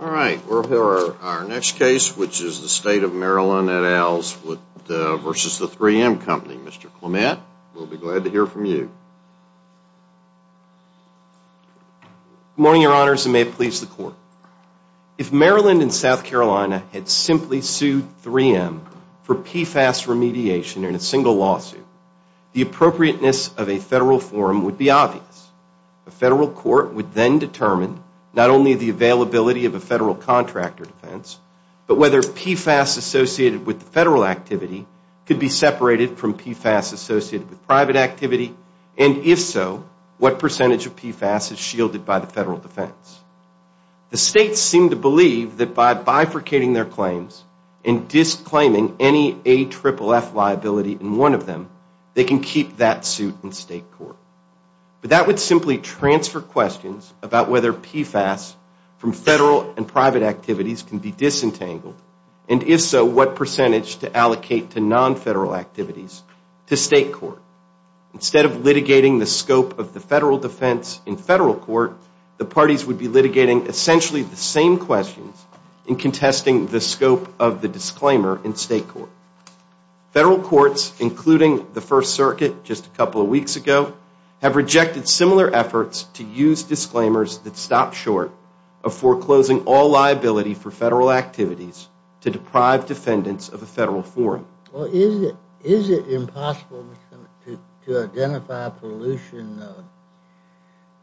All right. We'll hear our next case, which is the State of Maryland at Al's versus the 3M Company. Mr. Clement, we'll be glad to hear from you. Good morning, Your Honors, and may it please the Court. If Maryland and South Carolina had simply sued 3M for PFAS remediation in a single lawsuit, the appropriateness of a federal forum would be obvious. A federal court would then determine not only the availability of a federal contractor defense, but whether PFAS associated with the federal activity could be separated from PFAS associated with private activity, and if so, what percentage of PFAS is shielded by the federal defense. The states seem to believe that by bifurcating their claims and disclaiming any AFFF liability in one of them, they can keep that suit in state court. But that would simply transfer questions about whether PFAS from federal and private activities can be disentangled, and if so, what percentage to allocate to non-federal activities to state court. Instead of litigating the scope of the federal defense in federal court, the parties would be litigating essentially the same questions in contesting the scope of the disclaimer in state court. Federal courts, including the First Circuit just a couple of weeks ago, have rejected similar efforts to use disclaimers that stop short of foreclosing all liability for federal activities to deprive defendants of a federal forum. Is it impossible to identify pollution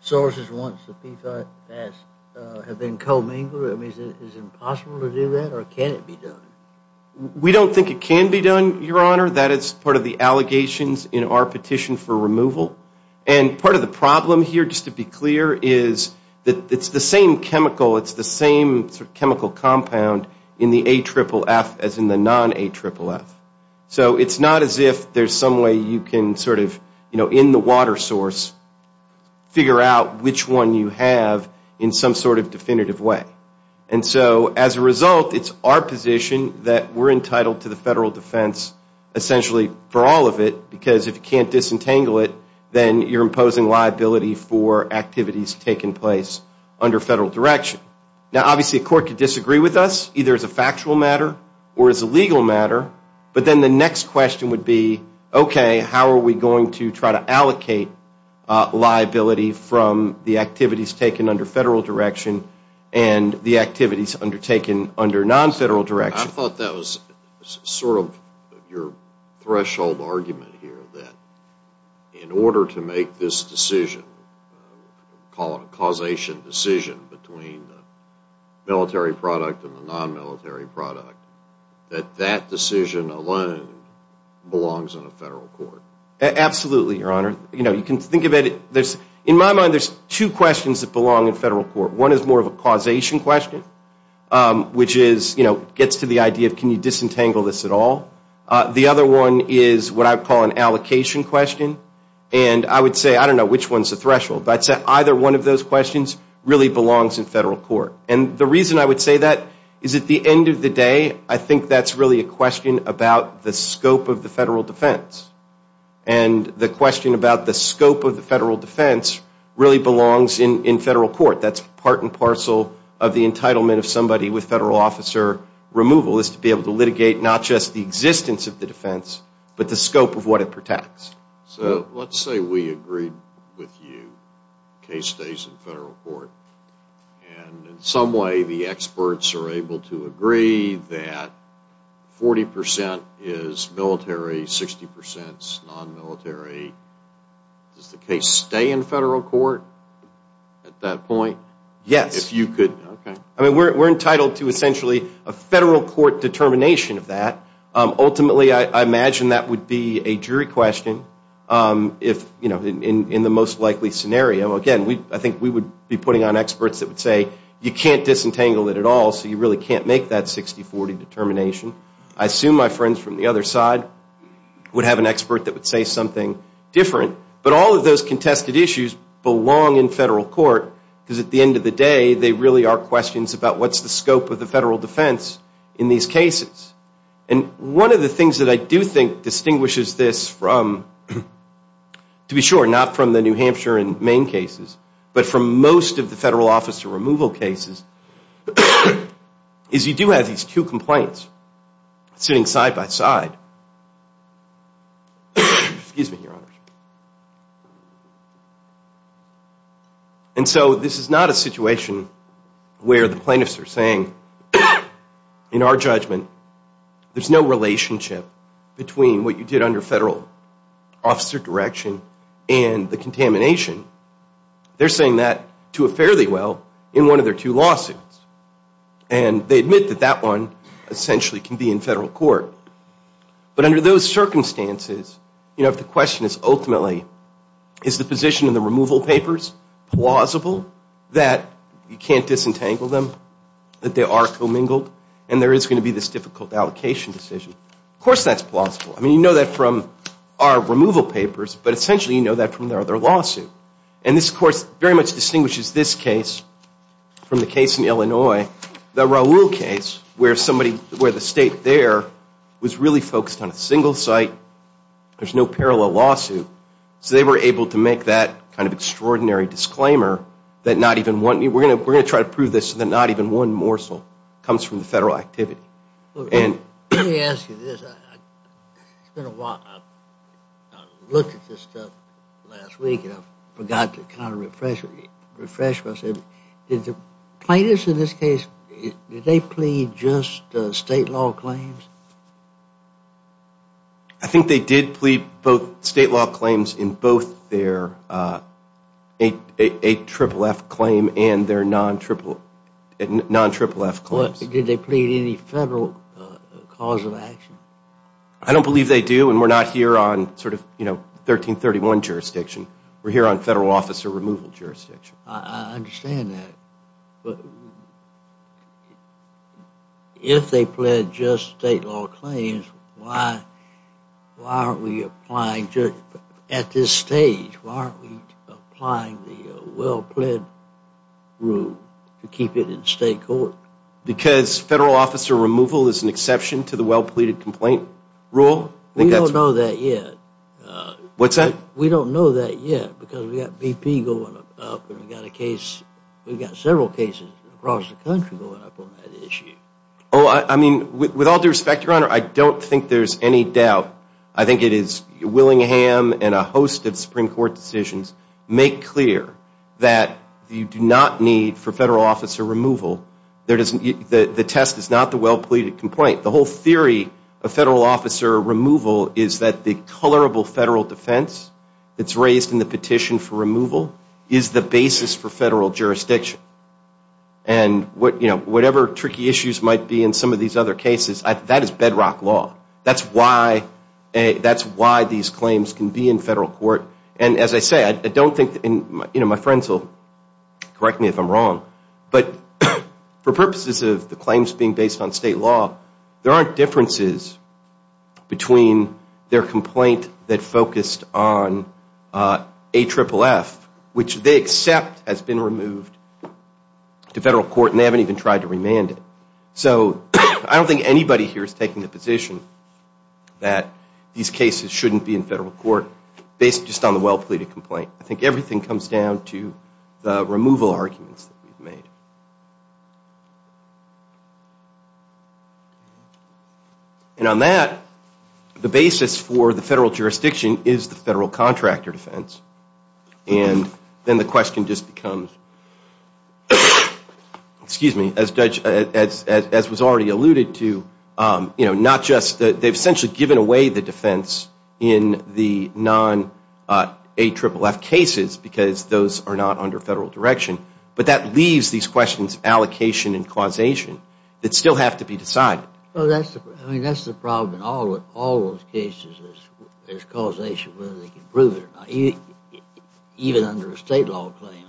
sources once the PFAS has been commingled? Is it impossible to do that, or can it be done? We don't think it can be done, Your Honor. That is part of the allegations in our petition for removal. And part of the problem here, just to be clear, is that it's the same chemical, it's the same chemical compound in the AFFF as in the non-AFFF. So it's not as if there's some way you can sort of, you know, in the water source, figure out which one you have in some sort of definitive way. And so as a result, it's our position that we're entitled to the federal defense essentially for all of it, because if you can't disentangle it, then you're imposing liability for activities taking place under federal direction. Now obviously a court could disagree with us, either as a factual matter or as a legal matter, but then the next question would be, okay, how are we going to try to allocate liability from the activities taken under federal direction and the activities undertaken under non-federal direction? I thought that was sort of your threshold argument here, that in order to make this decision, call it a causation decision between the military product and the non-military product, that that decision alone belongs in a federal court. Absolutely, Your Honor. You know, you can think of it, there's, in my mind, there's two questions that belong in federal court. One is more of a causation question, which is, you know, gets to the idea of can you disentangle this at all. The other one is what I call an allocation question, and I would say, I don't know which one's the threshold, but I'd say either one of those questions really belongs in federal court. And the reason I would say that is at the end of the day, I think that's really a question about the scope of the federal defense. And the question about the scope of the federal defense really belongs in federal court. That's part and parcel of the entitlement of somebody with federal officer removal, is to be able to litigate not just the existence of the defense, but the scope of what it protects. So let's say we agreed with you, the case stays in federal court, and in some way the experts are able to agree that 40% is military, 60% is non-military. Does the case stay in federal court at that point? Yes. If you could, okay. I mean, we're entitled to essentially a federal court determination of that. Ultimately, I imagine that would be a jury question in the most likely scenario. Again, I think we would be putting on experts that would say, you can't disentangle it at all, so you really can't make that 60-40 determination. I assume my friends from the other side would have an expert that would say something different. But all of those contested issues belong in federal court, because at the end of the day, they really are questions about what's the scope of the federal defense in these cases. And one of the things that I do think distinguishes this from, to be sure, not from the New Hampshire and Maine cases, but from most of the federal officer removal cases, is you do have these two complaints sitting side by side. Excuse me, Your Honor. And so this is not a situation where the plaintiffs are saying, in our judgment, there's no relationship between what you did under federal officer direction and the contamination. They're saying that to a fairly well in one of their two lawsuits. And they admit that that one essentially can be in federal court. But under those circumstances, you know, if the question is ultimately, is the position in the removal papers plausible, that you can't disentangle them, that they are commingled, and there is going to be this difficult allocation decision. Of course that's plausible. I mean, you know that from our removal papers, but essentially you know that from their other lawsuit. And this, of course, very much distinguishes this case from the case in Illinois, the Raul case, where somebody, where the state there was really focused on a single site. There's no parallel lawsuit. So they were able to make that kind of extraordinary disclaimer that not even one, we're going to try to prove this, that not even one morsel comes from the federal activity. Let me ask you this. It's been a while. I looked at this stuff last week and I forgot to kind of refresh myself. Did the plaintiffs in this case, did they plead just state law claims? I think they did plead both state law claims in both their 8FFF claim and their non-FFF claims. Did they plead any federal cause of action? I don't believe they do, and we're not here on sort of, you know, 1331 jurisdiction. We're here on federal officer removal jurisdiction. I understand that. If they plead just state law claims, why aren't we applying, at this stage, why aren't we applying the well-plead rule to keep it in state court? Because federal officer removal is an exception to the well-pleaded complaint rule? We don't know that yet. What's that? We don't know that yet because we've got BP going up and we've got a case, we've got several cases across the country going up on that issue. Oh, I mean, with all due respect, Your Honor, I don't think there's any doubt. I think it is Willingham and a host of Supreme Court decisions make clear that you do not need, for federal officer removal, the test is not the well-pleaded complaint. The whole theory of federal officer removal is that the colorable federal defense that's raised in the petition for removal is the basis for federal jurisdiction. And, you know, whatever tricky issues might be in some of these other cases, that is bedrock law. That's why these claims can be in federal court. And, as I say, I don't think, you know, my friends will correct me if I'm wrong, but for purposes of the claims being based on state law, there aren't differences between their complaint that focused on AFFF, which they accept has been removed to federal court and they haven't even tried to remand it. So I don't think anybody here is taking the position that these cases shouldn't be in federal court based just on the well-pleaded complaint. I think everything comes down to the removal arguments that we've made. And on that, the basis for the federal jurisdiction is the federal contractor defense. And then the question just becomes, excuse me, as was already alluded to, they've essentially given away the defense in the non-AFFF cases because those are not under federal direction. But that leaves these questions of allocation and causation that still have to be decided. Well, that's the problem in all those cases is causation, whether they can prove it or not. Even under a state law claim,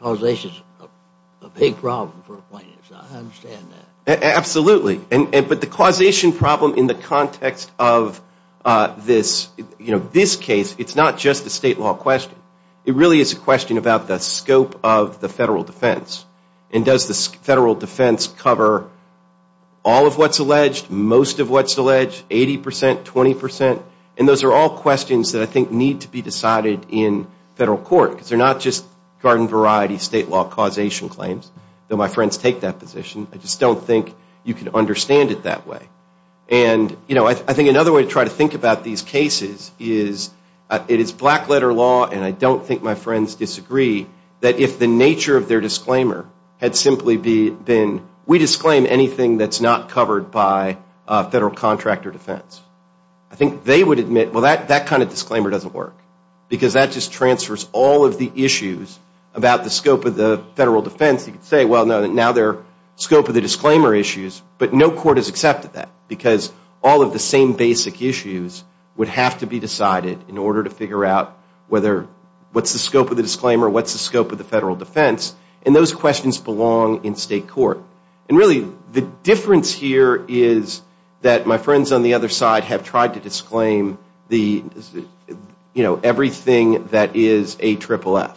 causation is a big problem for a plaintiff. I understand that. Absolutely. But the causation problem in the context of this case, it's not just a state law question. It really is a question about the scope of the federal defense. And does the federal defense cover all of what's alleged, most of what's alleged, 80%, 20%? And those are all questions that I think need to be decided in federal court because they're not just garden variety state law causation claims, though my friends take that position. I just don't think you can understand it that way. And, you know, I think another way to try to think about these cases is it is black letter law, and I don't think my friends disagree, that if the nature of their disclaimer had simply been, we disclaim anything that's not covered by federal contract or defense. I think they would admit, well, that kind of disclaimer doesn't work because that just transfers all of the issues about the scope of the federal defense. You could say, well, now they're scope of the disclaimer issues, but no court has accepted that because all of the same basic issues would have to be decided in order to figure out whether, what's the scope of the disclaimer, what's the scope of the federal defense, and those questions belong in state court. And really the difference here is that my friends on the other side have tried to disclaim the, you know, everything that is AFFF.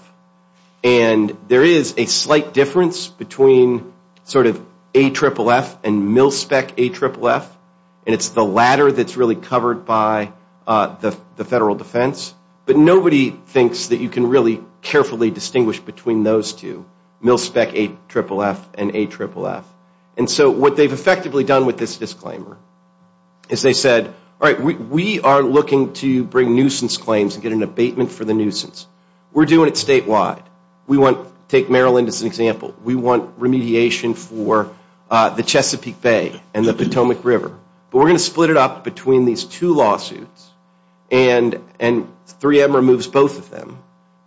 And there is a slight difference between sort of AFFF and MilSpec AFFF, and it's the latter that's really covered by the federal defense. But nobody thinks that you can really carefully distinguish between those two, MilSpec AFFF and AFFF. And so what they've effectively done with this disclaimer is they said, all right, we are looking to bring nuisance claims and get an abatement for the nuisance. We're doing it statewide. We want to take Maryland as an example. We want remediation for the Chesapeake Bay and the Potomac River. But we're going to split it up between these two lawsuits, and 3M removes both of them.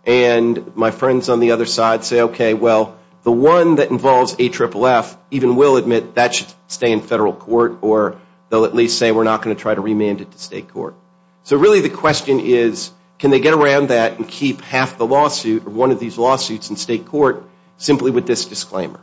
And my friends on the other side say, okay, well, the one that involves AFFF even will admit that should stay in federal court or they'll at least say we're not going to try to remand it to state court. So really the question is can they get around that and keep half the lawsuit or one of these lawsuits in state court simply with this disclaimer?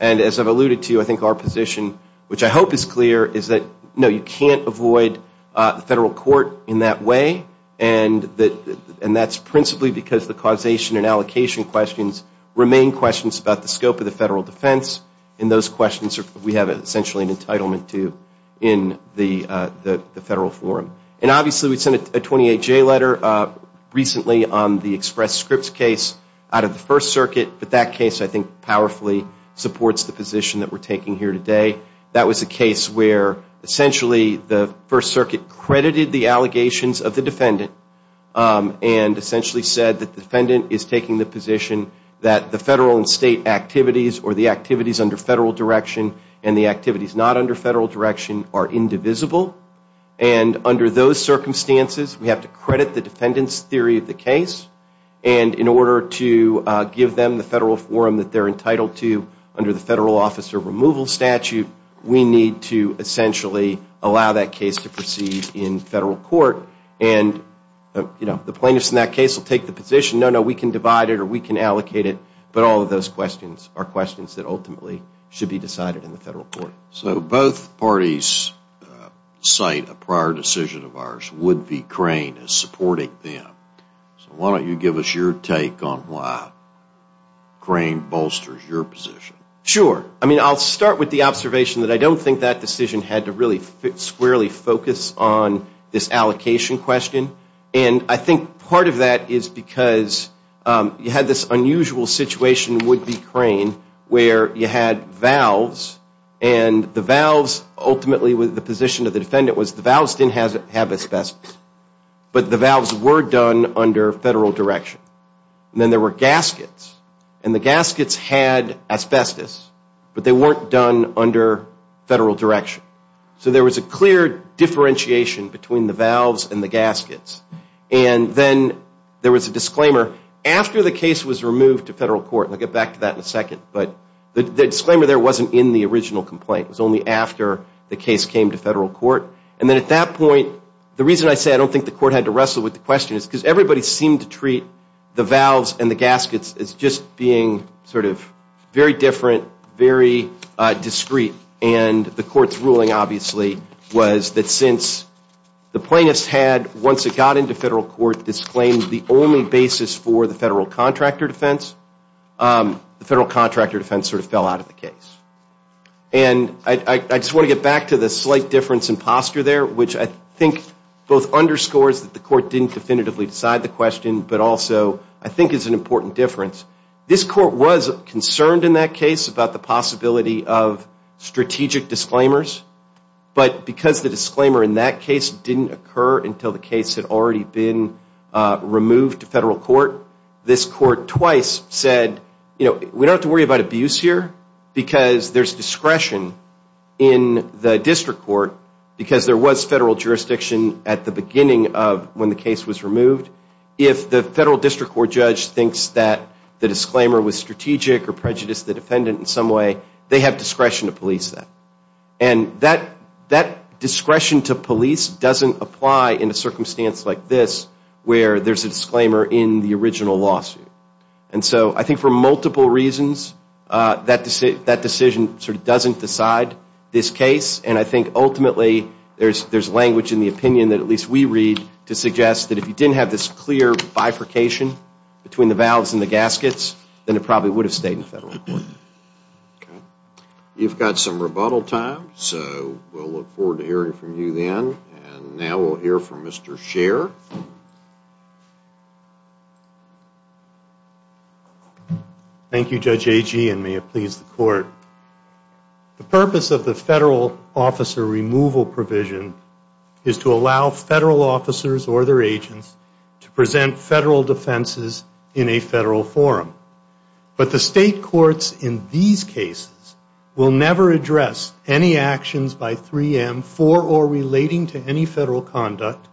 And as I've alluded to, I think our position, which I hope is clear, is that, no, you can't avoid federal court in that way, and that's principally because the causation and allocation questions remain questions about the scope of the federal defense, and those questions we have essentially an entitlement to in the federal forum. And obviously we sent a 28-J letter recently on the Express Scripts case out of the First Circuit, but that case I think powerfully supports the position that we're taking here today. That was a case where essentially the First Circuit credited the allegations of the defendant and essentially said that the defendant is taking the position that the federal and state activities or the activities under federal direction and the activities not under federal direction are indivisible, and under those circumstances we have to credit the defendant's theory of the case. And in order to give them the federal forum that they're entitled to under the federal officer removal statute, we need to essentially allow that case to proceed in federal court. And the plaintiffs in that case will take the position, no, no, we can divide it or we can allocate it, but all of those questions are questions that ultimately should be decided in the federal court. So both parties cite a prior decision of ours, Wood v. Crane, as supporting them. So why don't you give us your take on why Crane bolsters your position? Sure. I mean, I'll start with the observation that I don't think that decision had to really squarely focus on this allocation question. And I think part of that is because you had this unusual situation, Wood v. Crane, where you had valves and the valves ultimately, the position of the defendant was the valves didn't have asbestos, but the valves were done under federal direction. And then there were gaskets, and the gaskets had asbestos, but they weren't done under federal direction. So there was a clear differentiation between the valves and the gaskets. And then there was a disclaimer after the case was removed to federal court, and I'll get back to that in a second, but the disclaimer there wasn't in the original complaint. It was only after the case came to federal court. And then at that point, the reason I say I don't think the court had to wrestle with the question is because everybody seemed to treat the valves and the gaskets as just being sort of very different, very discreet. And the court's ruling, obviously, was that since the plaintiff's had, once it got into federal court, disclaimed the only basis for the federal contractor defense, the federal contractor defense sort of fell out of the case. And I just want to get back to the slight difference in posture there, which I think both underscores that the court didn't definitively decide the question, but also I think is an important difference. This court was concerned in that case about the possibility of strategic disclaimers, but because the disclaimer in that case didn't occur until the case had already been removed to federal court, this court twice said, you know, we don't have to worry about abuse here because there's discretion in the district court because there was federal jurisdiction at the beginning of when the case was removed. If the federal district court judge thinks that the disclaimer was strategic or prejudiced the defendant in some way, they have discretion to police that. And that discretion to police doesn't apply in a circumstance like this where there's a disclaimer in the original lawsuit. And so I think for multiple reasons that decision sort of doesn't decide this case. And I think ultimately there's language in the opinion that at least we read to suggest that if you didn't have this clear bifurcation between the valves and the gaskets, then it probably would have stayed in federal court. You've got some rebuttal time, so we'll look forward to hearing from you then. And now we'll hear from Mr. Scher. Thank you, Judge Agee, and may it please the court. The purpose of the federal officer removal provision is to allow federal officers or their agents to present federal defenses in a federal forum. But the state courts in these cases will never address any actions by 3M for or relating to any federal conduct,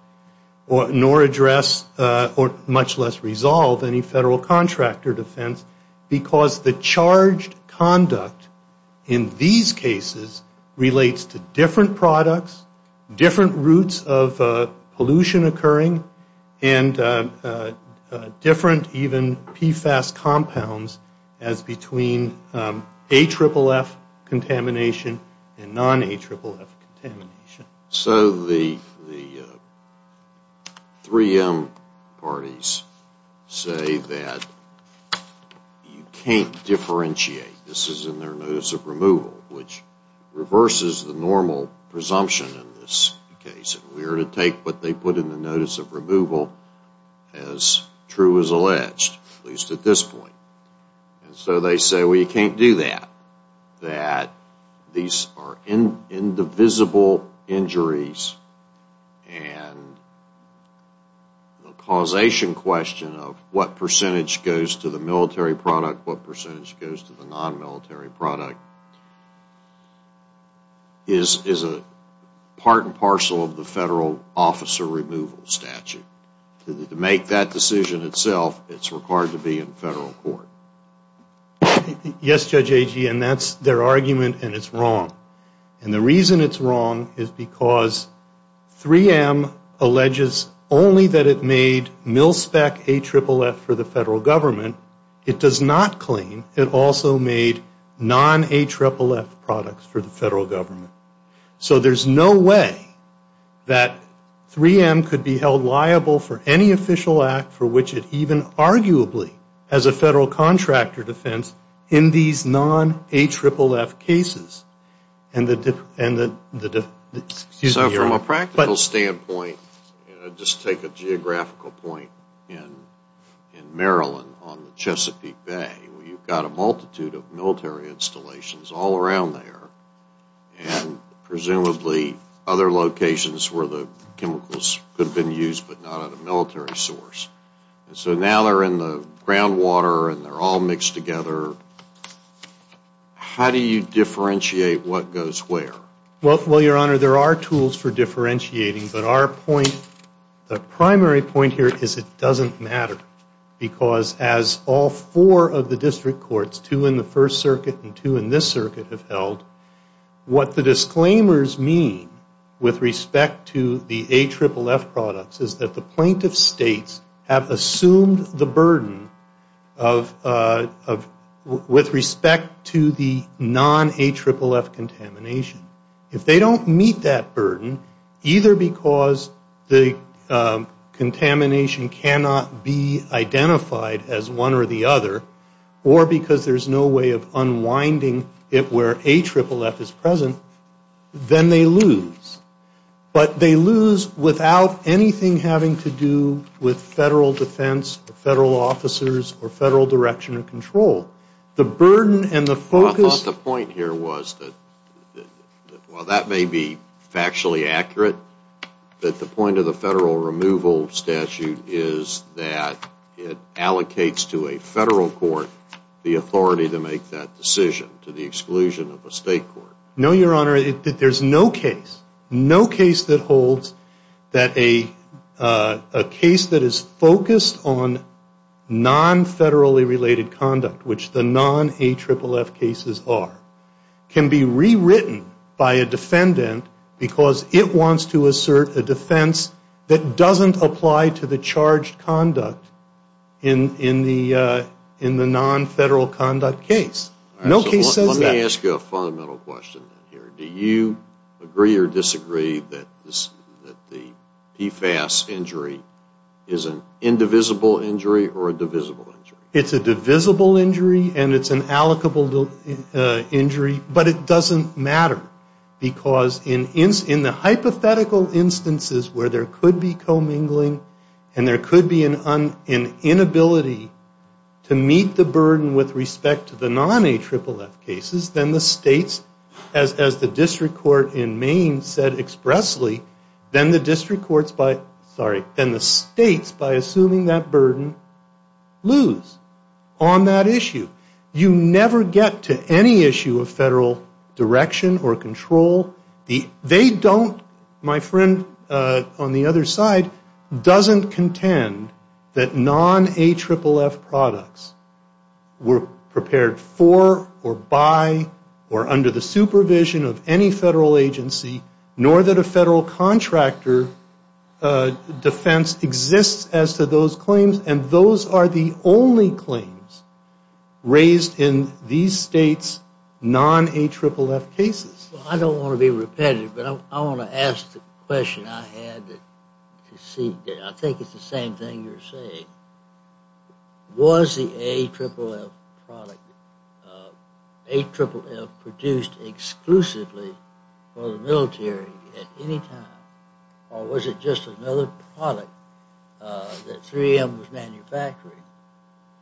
nor address or much less resolve any federal contractor defense because the charged conduct in these cases relates to different products, different routes of pollution occurring, and different even PFAS compounds as between AFFF contamination and non-AFFF contamination. So the 3M parties say that you can't differentiate. This is in their notice of removal, which reverses the normal presumption in this case. We are to take what they put in the notice of removal as true as alleged, at least at this point. And so they say, well, you can't do that, that these are indivisible injuries and the causation question of what percentage goes to the military product, what percentage goes to the non-military product, is a part and parcel of the federal officer removal statute. To make that decision itself, it's required to be in federal court. Yes, Judge Agee, and that's their argument and it's wrong. And the reason it's wrong is because 3M alleges only that it made mil-spec AFFF for the federal government. It does not claim it also made non-AFFF products for the federal government. So there's no way that 3M could be held liable for any official act for which it even arguably has a federal contractor defense in these non-AFFF cases. So from a practical standpoint, just take a geographical point in Maryland on the Chesapeake Bay, where you've got a multitude of military installations all around there and presumably other locations where the chemicals could have been used but not at a military source. And so now they're in the groundwater and they're all mixed together. How do you differentiate what goes where? Well, Your Honor, there are tools for differentiating, but our point, the primary point here is it doesn't matter because as all four of the district courts, two in the First Circuit and two in this circuit have held, what the disclaimers mean with respect to the AFFF products is that the plaintiff states have assumed the burden with respect to the non-AFFF contamination. If they don't meet that burden, either because the contamination cannot be identified as one or the other or because there's no way of unwinding it where AFFF is present, then they lose. But they lose without anything having to do with federal defense or federal officers or federal direction of control. Well, I thought the point here was that while that may be factually accurate, that the point of the federal removal statute is that it allocates to a federal court the authority to make that decision to the exclusion of a state court. No, Your Honor, there's no case, no case that holds that a case that is focused on non-federally related conduct, which the non-AFFF cases are, can be rewritten by a defendant because it wants to assert a defense that doesn't apply to the charged conduct in the non-federal conduct case. No case says that. Let me ask you a fundamental question here. Do you agree or disagree that the PFAS injury is an indivisible injury or a divisible injury? It's a divisible injury and it's an allocable injury, but it doesn't matter. Because in the hypothetical instances where there could be commingling and there could be an inability to meet the burden with respect to the non-AFFF cases, then the states, as the district court in Maine said expressly, then the states, by assuming that burden, lose on that issue. You never get to any issue of federal direction or control. They don't, my friend on the other side, doesn't contend that non-AFFF products were prepared for or by or under the supervision of any federal agency, nor that a federal contractor defense exists as to those claims. And those are the only claims raised in these states' non-AFFF cases. I don't want to be repetitive, but I want to ask the question I had to see. I think it's the same thing you're saying. Was the AFFF product produced exclusively for the military at any time or was it just another product that 3M was manufacturing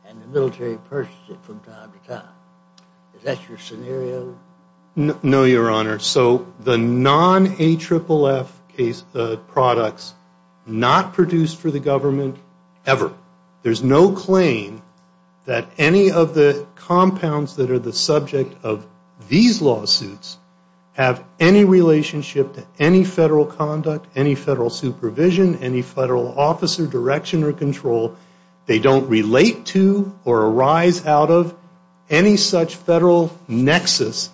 and the military purchased it from time to time? Is that your scenario? No, Your Honor. So the non-AFFF products not produced for the government ever. There's no claim that any of the compounds that are the subject of these lawsuits have any relationship to any federal conduct, any federal supervision, any federal officer direction or control. They don't relate to or arise out of any such federal nexus,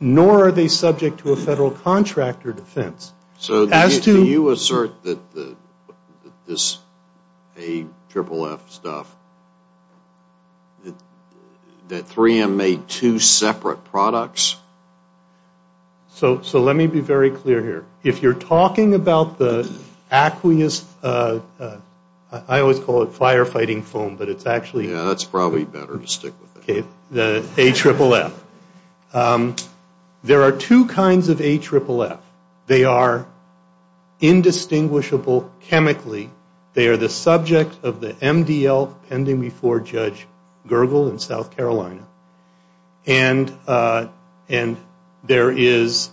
nor are they subject to a federal contractor defense. So do you assert that this AFFF stuff, that 3M made two separate products? So let me be very clear here. If you're talking about the aqueous, I always call it firefighting foam, but it's actually... Yeah, that's probably better to stick with. The AFFF. There are two kinds of AFFF. They are indistinguishable chemically. They are the subject of the MDL pending before Judge Gergel in South Carolina. And there is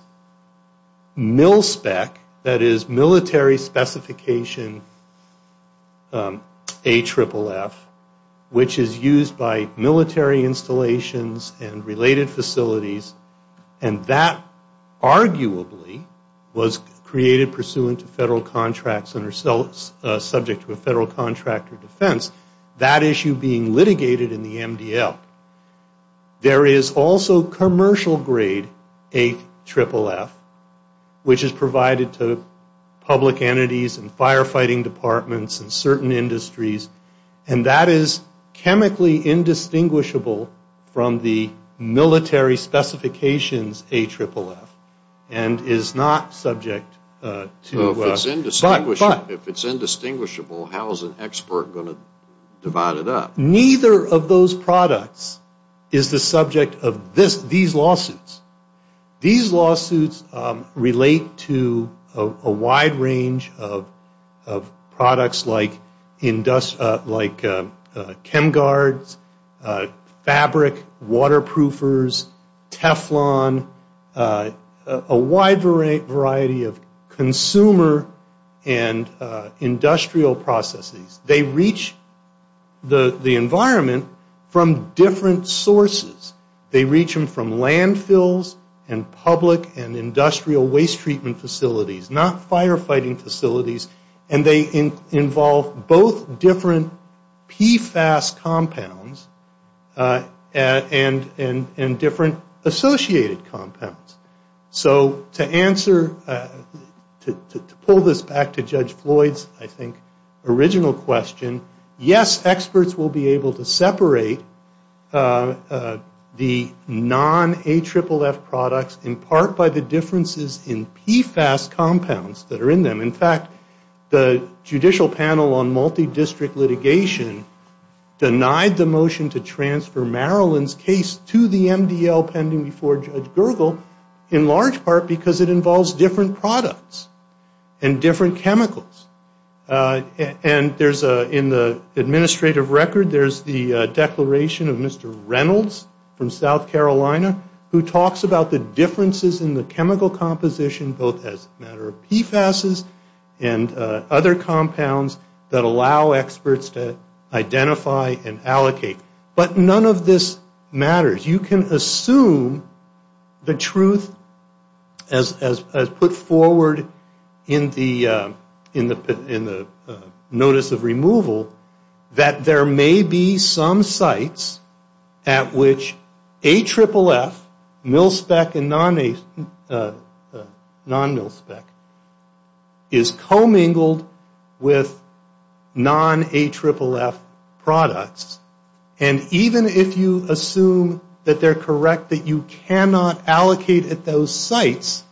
MIL-SPEC, that is Military Specification AFFF, which is used by military installations and related facilities, and that arguably was created pursuant to federal contracts and are subject to a federal contractor defense. That issue being litigated in the MDL. There is also commercial grade AFFF, which is provided to public entities and firefighting departments and certain industries, and that is chemically indistinguishable from the military specifications AFFF and is not subject to... If it's indistinguishable, how is an expert going to divide it up? Neither of those products is the subject of these lawsuits. These lawsuits relate to a wide range of products like Chemguards, Fabric, Waterproofers, Teflon, a wide variety of consumer and industrial processes. They reach the environment from different sources. They reach them from landfills and public and industrial waste treatment facilities, not firefighting facilities, and they involve both different PFAS compounds and different associated compounds. So to answer, to pull this back to Judge Floyd's, I think, original question, yes, experts will be able to separate the non-AFFF products in part by the differences in PFAS compounds that are in them. In fact, the Judicial Panel on Multidistrict Litigation denied the motion to transfer Marilyn's case to the MDL pending before Judge Gergel in large part because it involves different products and different chemicals. And in the administrative record, there's the declaration of Mr. Reynolds from South Carolina who talks about the differences in the chemical composition both as a matter of PFAS and other compounds that allow experts to identify and allocate. But none of this matters. You can assume the truth as put forward in the notice of removal that there may be some sites at which AFFF, mil-spec and non-mil-spec, is commingled with non-AFFF products. And even if you assume that they're correct, that you cannot allocate at those sites,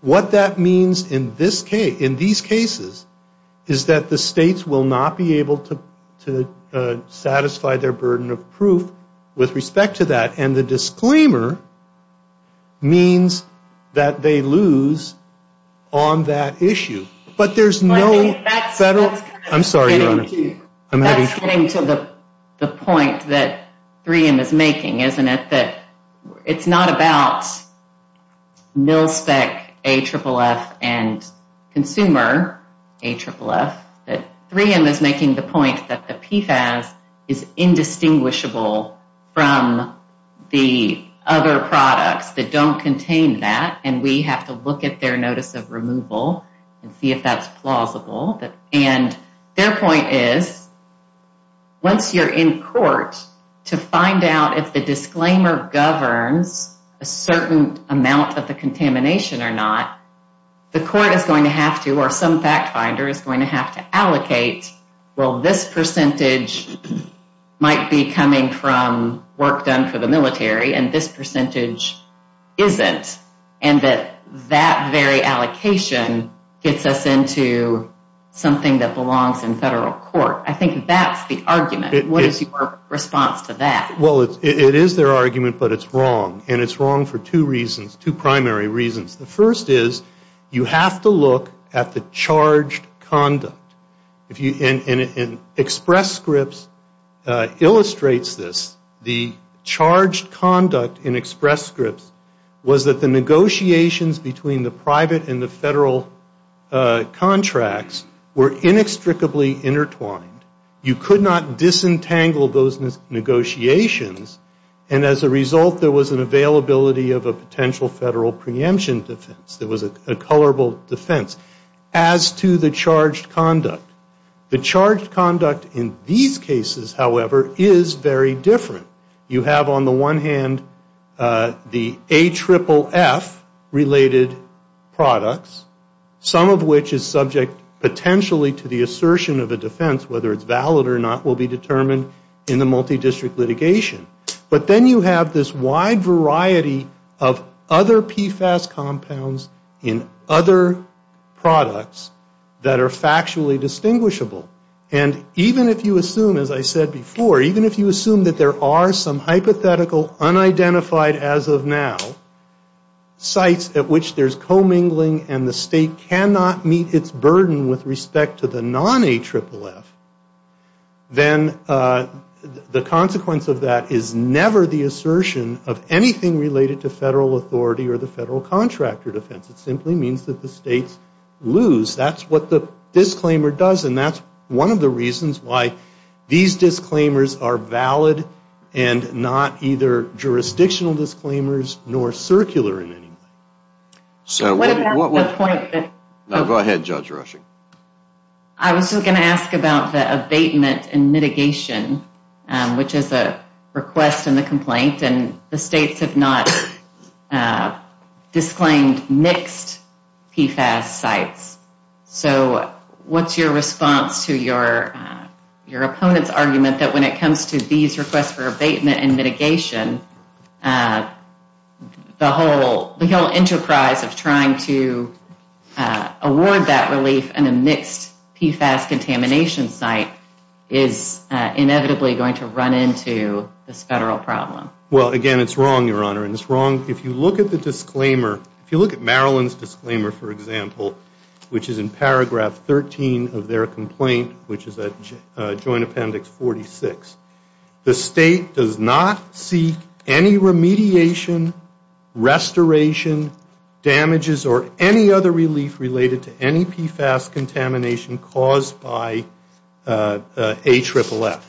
what that means in these cases is that the states will not be able to satisfy their burden of proof with respect to that. And the disclaimer means that they lose on that issue. But there's no federal – I'm sorry, Your Honor. That's getting to the point that 3M is making, isn't it? That it's not about mil-spec AFFF and consumer AFFF. That 3M is making the point that the PFAS is indistinguishable from the other products that don't contain that, and we have to look at their notice of removal and see if that's plausible. And their point is, once you're in court to find out if the disclaimer governs a certain amount of the contamination or not, the court is going to have to, or some fact finder is going to have to allocate, well, this percentage might be coming from work done for the military and this percentage isn't. And that that very allocation gets us into something that belongs in federal court. I think that's the argument. What is your response to that? Well, it is their argument, but it's wrong. And it's wrong for two reasons, two primary reasons. The first is you have to look at the charged conduct. And Express Scripts illustrates this. The charged conduct in Express Scripts was that the negotiations between the private and the federal contracts were inextricably intertwined. You could not disentangle those negotiations, and as a result there was an availability of a potential federal preemption defense. There was a colorable defense. As to the charged conduct, the charged conduct in these cases, however, is very different. You have on the one hand the AFFF related products, some of which is subject potentially to the assertion of a defense, whether it's valid or not will be determined in the multi-district litigation. But then you have this wide variety of other PFAS compounds in other products that are factually distinguishable. And even if you assume, as I said before, even if you assume that there are some hypothetical unidentified as of now, sites at which there's commingling and the state cannot meet its burden with respect to the non-AFFF, then the consequence of that is never the assertion of anything related to federal authority or the federal contractor defense. It simply means that the states lose. That's what the disclaimer does, and that's one of the reasons why these disclaimers are valid and not either jurisdictional disclaimers nor circular in any way. So what about the point that... Go ahead, Judge Rushing. I was just going to ask about the abatement and mitigation, which is a request in the complaint, and the states have not disclaimed mixed PFAS sites. So what's your response to your opponent's argument that when it comes to these requests for abatement and mitigation, the whole enterprise of trying to award that relief in a mixed PFAS contamination site is inevitably going to run into this federal problem? Well, again, it's wrong, Your Honor, and it's wrong. If you look at the disclaimer, if you look at Maryland's disclaimer, for example, which is in paragraph 13 of their complaint, which is Joint Appendix 46, the state does not seek any remediation, restoration, damages, or any other relief related to any PFAS contamination caused by AFFF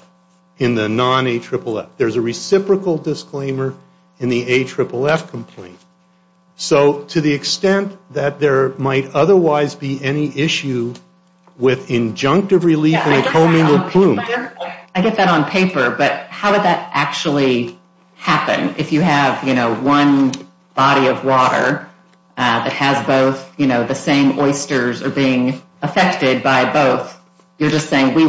in the non-AFFF. There's a reciprocal disclaimer in the AFFF complaint. So to the extent that there might otherwise be any issue with injunctive relief in a co-mingled plume... I get that on paper, but how would that actually happen? If you have, you know, one body of water that has both, you know, the same oysters are being affected by both, you're just saying we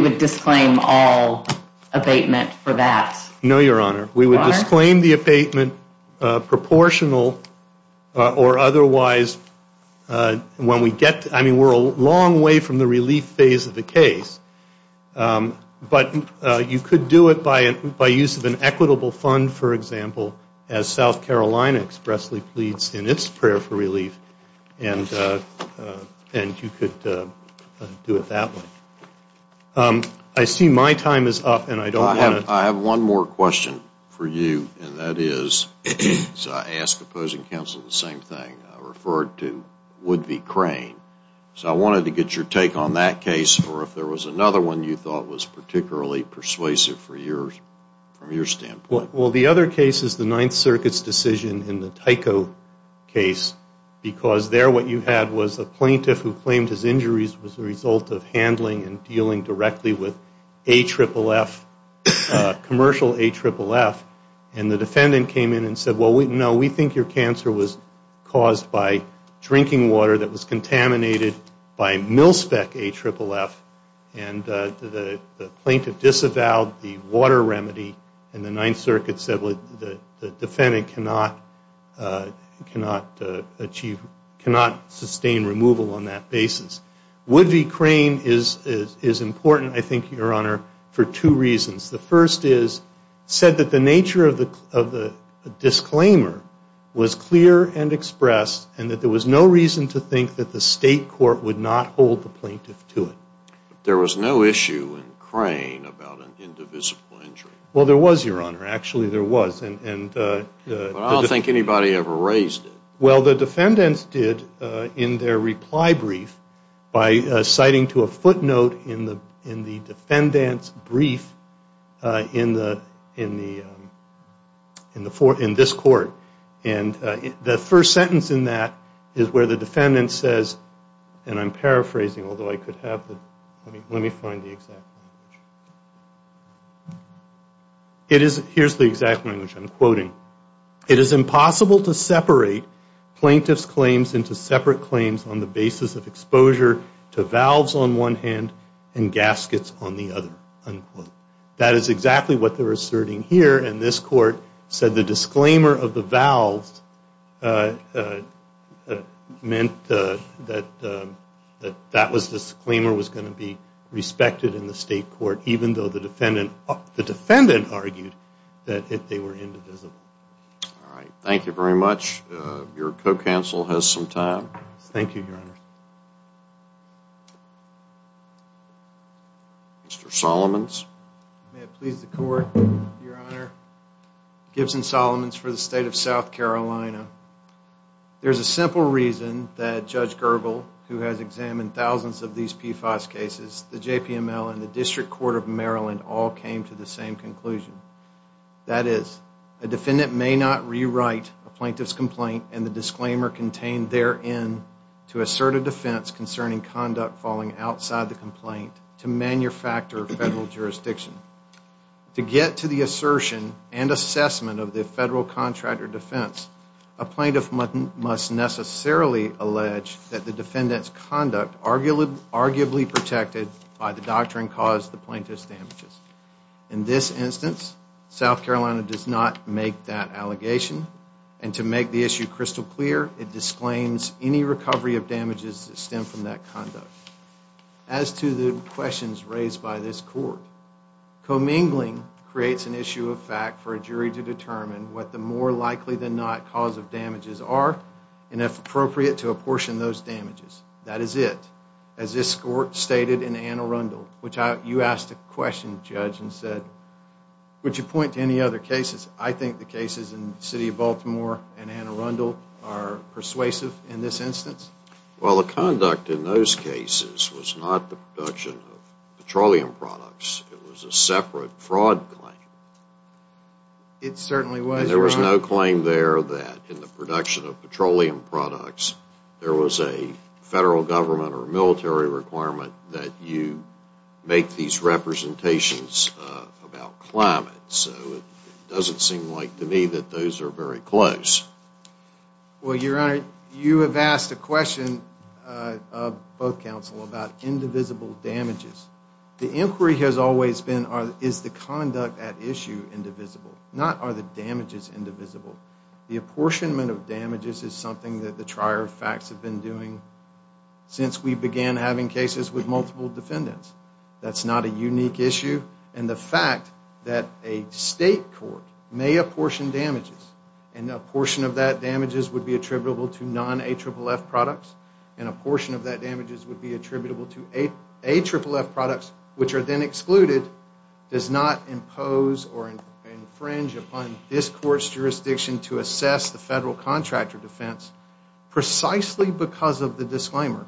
would disclaim all abatement for that? No, Your Honor. We would disclaim the abatement proportional or otherwise when we get... I mean, we're a long way from the relief phase of the case, but you could do it by use of an equitable fund, for example, as South Carolina expressly pleads in its prayer for relief, and you could do it that way. I see my time is up, and I don't want to... I have one more question for you, and that is, as I ask opposing counsel the same thing, I referred to Wood v. Crane. So I wanted to get your take on that case, or if there was another one you thought was particularly persuasive from your standpoint. Well, the other case is the Ninth Circuit's decision in the Tyco case, because there what you had was a plaintiff who claimed his injuries was the result of handling and dealing directly with AFFF, commercial AFFF, and the defendant came in and said, well, no, we think your cancer was caused by drinking water that was contaminated by MilSpec AFFF, and the plaintiff disavowed the water remedy, and the Ninth Circuit said the defendant cannot sustain removal on that basis. Wood v. Crane is important, I think, Your Honor, for two reasons. The first is it said that the nature of the disclaimer was clear and expressed and that there was no reason to think that the state court would not hold the plaintiff to it. There was no issue in Crane about an indivisible injury. Well, there was, Your Honor. Actually, there was. But I don't think anybody ever raised it. Well, the defendants did in their reply brief by citing to a footnote in the defendant's brief in this court, and the first sentence in that is where the defendant says, and I'm paraphrasing, although I could have the, let me find the exact language. Here's the exact language I'm quoting. It is impossible to separate plaintiff's claims into separate claims on the basis of exposure to valves on one hand and gaskets on the other, unquote. That is exactly what they're asserting here, and this court said the disclaimer of the valves meant that that disclaimer was going to be respected in the state court, even though the defendant argued that they were indivisible. All right. Thank you very much. Your co-counsel has some time. Thank you, Your Honor. Mr. Solomons. May it please the court, Your Honor. Gibson Solomons for the state of South Carolina. There's a simple reason that Judge Gergel, who has examined thousands of these PFAS cases, the JPML and the District Court of Maryland all came to the same conclusion. That is, a defendant may not rewrite a plaintiff's complaint and the disclaimer contained therein to assert a defense concerning conduct falling outside the complaint to manufacture federal jurisdiction. To get to the assertion and assessment of the federal contractor defense, a plaintiff must necessarily allege that the defendant's conduct, arguably protected by the doctrine caused the plaintiff's damages. In this instance, South Carolina does not make that allegation. And to make the issue crystal clear, it disclaims any recovery of damages that stem from that conduct. As to the questions raised by this court, commingling creates an issue of fact for a jury to determine what the more likely than not cause of damages are and if appropriate to apportion those damages. That is it. As this court stated in Anne Arundel, which you asked a question, Judge, and said, would you point to any other cases? I think the cases in the city of Baltimore and Anne Arundel are persuasive in this instance. Well, the conduct in those cases was not the production of petroleum products. It was a separate fraud claim. It certainly was. And there was no claim there that in the production of petroleum products, there was a federal government or military requirement that you make these representations about climate. So it doesn't seem like to me that those are very close. Well, Your Honor, you have asked a question of both counsel about indivisible damages. The inquiry has always been, is the conduct at issue indivisible? Not, are the damages indivisible? The apportionment of damages is something that the trier of facts have been doing since we began having cases with multiple defendants. That's not a unique issue. And the fact that a state court may apportion damages and a portion of that damages would be attributable to non-AFFF products and a portion of that damages would be attributable to AFFF products, which are then excluded, does not impose or infringe upon this court's jurisdiction to assess the federal contractor defense precisely because of the disclaimer.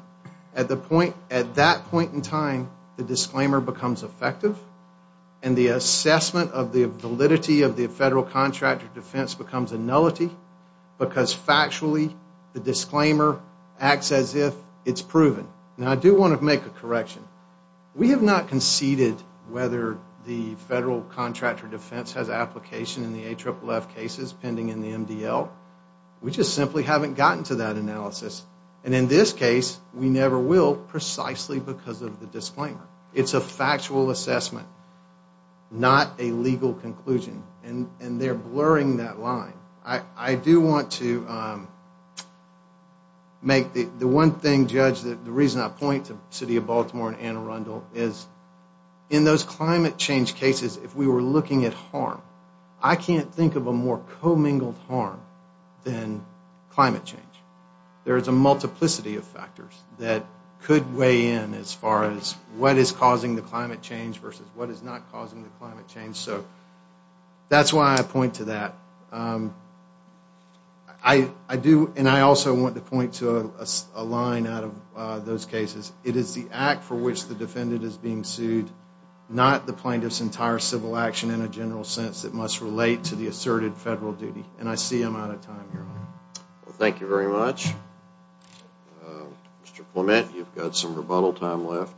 At that point in time, the disclaimer becomes effective and the assessment of the validity of the federal contractor defense becomes a nullity because factually the disclaimer acts as if it's proven. Now, I do want to make a correction. We have not conceded whether the federal contractor defense has application in the AFFF cases pending in the MDL. We just simply haven't gotten to that analysis. And in this case, we never will precisely because of the disclaimer. It's a factual assessment, not a legal conclusion. And they're blurring that line. I do want to make the one thing, Judge, that the reason I point to the City of Baltimore and Anne Arundel is in those climate change cases, if we were looking at harm, I can't think of a more commingled harm than climate change. There is a multiplicity of factors that could weigh in as far as what is causing the climate change versus what is not causing the climate change. So that's why I point to that. I do, and I also want to point to a line out of those cases. It is the act for which the defendant is being sued, not the plaintiff's entire civil action in a general sense that must relate to the asserted federal duty. And I see I'm out of time here. Thank you very much. Mr. Clement, you've got some rebuttal time left.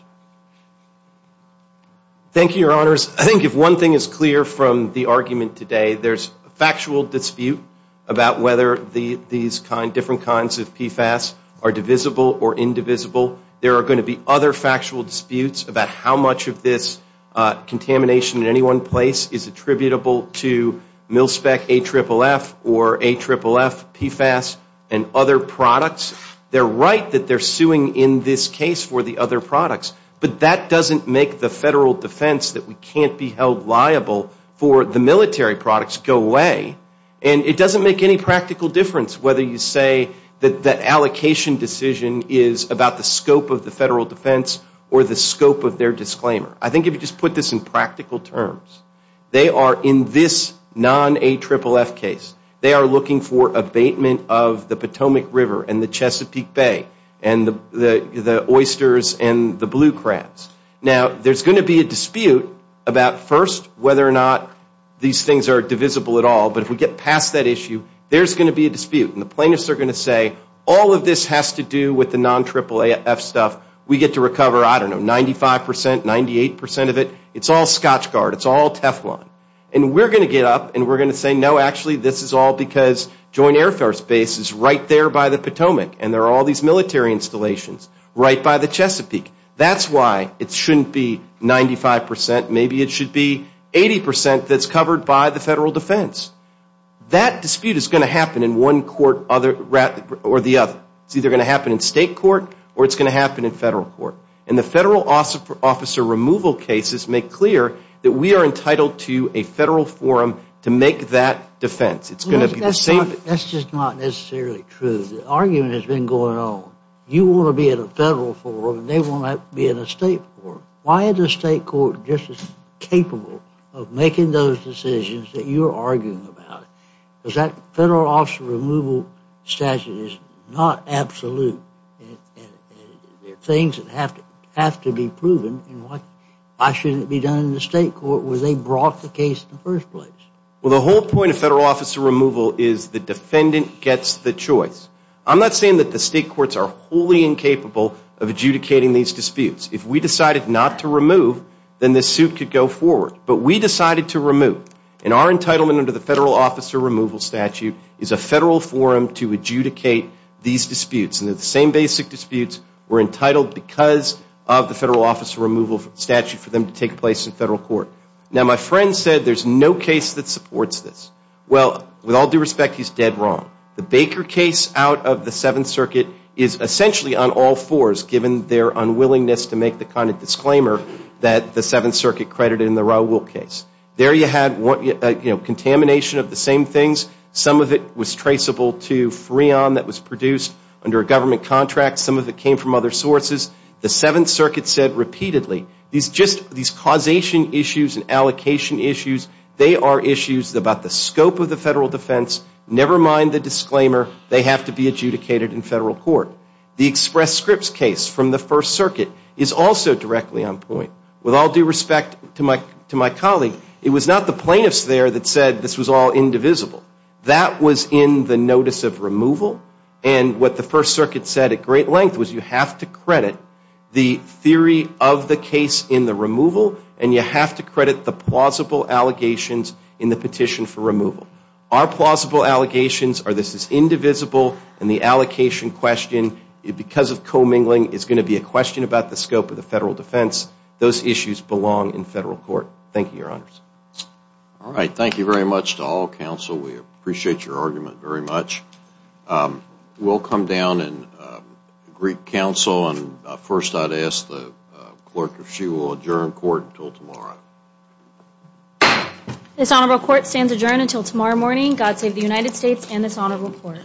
Thank you, Your Honors. I think if one thing is clear from the argument today, there's a factual dispute about whether these different kinds of PFAS are divisible or indivisible. There are going to be other factual disputes about how much of this contamination in any one place is attributable to MilSpec, AFFF, or AFFF, PFAS, and other products. They're right that they're suing in this case for the other products, but that doesn't make the federal defense that we can't be held liable for the military products go away, and it doesn't make any practical difference whether you say that that allocation decision is about the scope of the federal defense or the scope of their disclaimer. I think if you just put this in practical terms, they are in this non-AFFF case, they are looking for abatement of the Potomac River and the Chesapeake Bay and the oysters and the blue crabs. Now, there's going to be a dispute about first whether or not these things are divisible at all, but if we get past that issue, there's going to be a dispute. And the plaintiffs are going to say, all of this has to do with the non-AAAF stuff. We get to recover, I don't know, 95 percent, 98 percent of it. It's all Scotchgard. It's all Teflon. And we're going to get up and we're going to say, no, actually this is all because Joint Air Force Base is right there by the Potomac, and there are all these military installations right by the Chesapeake. That's why it shouldn't be 95 percent. Maybe it should be 80 percent that's covered by the federal defense. That dispute is going to happen in one court or the other. It's either going to happen in state court or it's going to happen in federal court. And the federal officer removal cases make clear that we are entitled to a federal forum to make that defense. That's just not necessarily true. The argument has been going on. You want to be in a federal forum and they want to be in a state forum. Why is the state court just as capable of making those decisions that you're arguing about? Because that federal officer removal statute is not absolute. There are things that have to be proven. Why shouldn't it be done in the state court where they brought the case in the first place? Well, the whole point of federal officer removal is the defendant gets the choice. I'm not saying that the state courts are wholly incapable of adjudicating these disputes. If we decided not to remove, then this suit could go forward. But we decided to remove. And our entitlement under the federal officer removal statute is a federal forum to adjudicate these disputes. And they're the same basic disputes. We're entitled because of the federal officer removal statute for them to take place in federal court. Now, my friend said there's no case that supports this. Well, with all due respect, he's dead wrong. The Baker case out of the Seventh Circuit is essentially on all fours, given their unwillingness to make the kind of disclaimer that the Seventh Circuit credited in the Raul case. There you had contamination of the same things. Some of it was traceable to Freon that was produced under a government contract. Some of it came from other sources. The Seventh Circuit said repeatedly, these causation issues and allocation issues, they are issues about the scope of the federal defense. Never mind the disclaimer. They have to be adjudicated in federal court. The Express Scripts case from the First Circuit is also directly on point. With all due respect to my colleague, it was not the plaintiffs there that said this was all indivisible. That was in the notice of removal. And what the First Circuit said at great length was you have to credit the theory of the case in the removal, and you have to credit the plausible allegations in the petition for removal. Our plausible allegations are this is indivisible, and the allocation question, because of commingling, is going to be a question about the scope of the federal defense. Those issues belong in federal court. Thank you, Your Honors. All right. Thank you very much to all counsel. We appreciate your argument very much. We'll come down and greet counsel. And first I'd ask the clerk if she will adjourn court until tomorrow. This honorable court stands adjourned until tomorrow morning. God save the United States and this honorable court.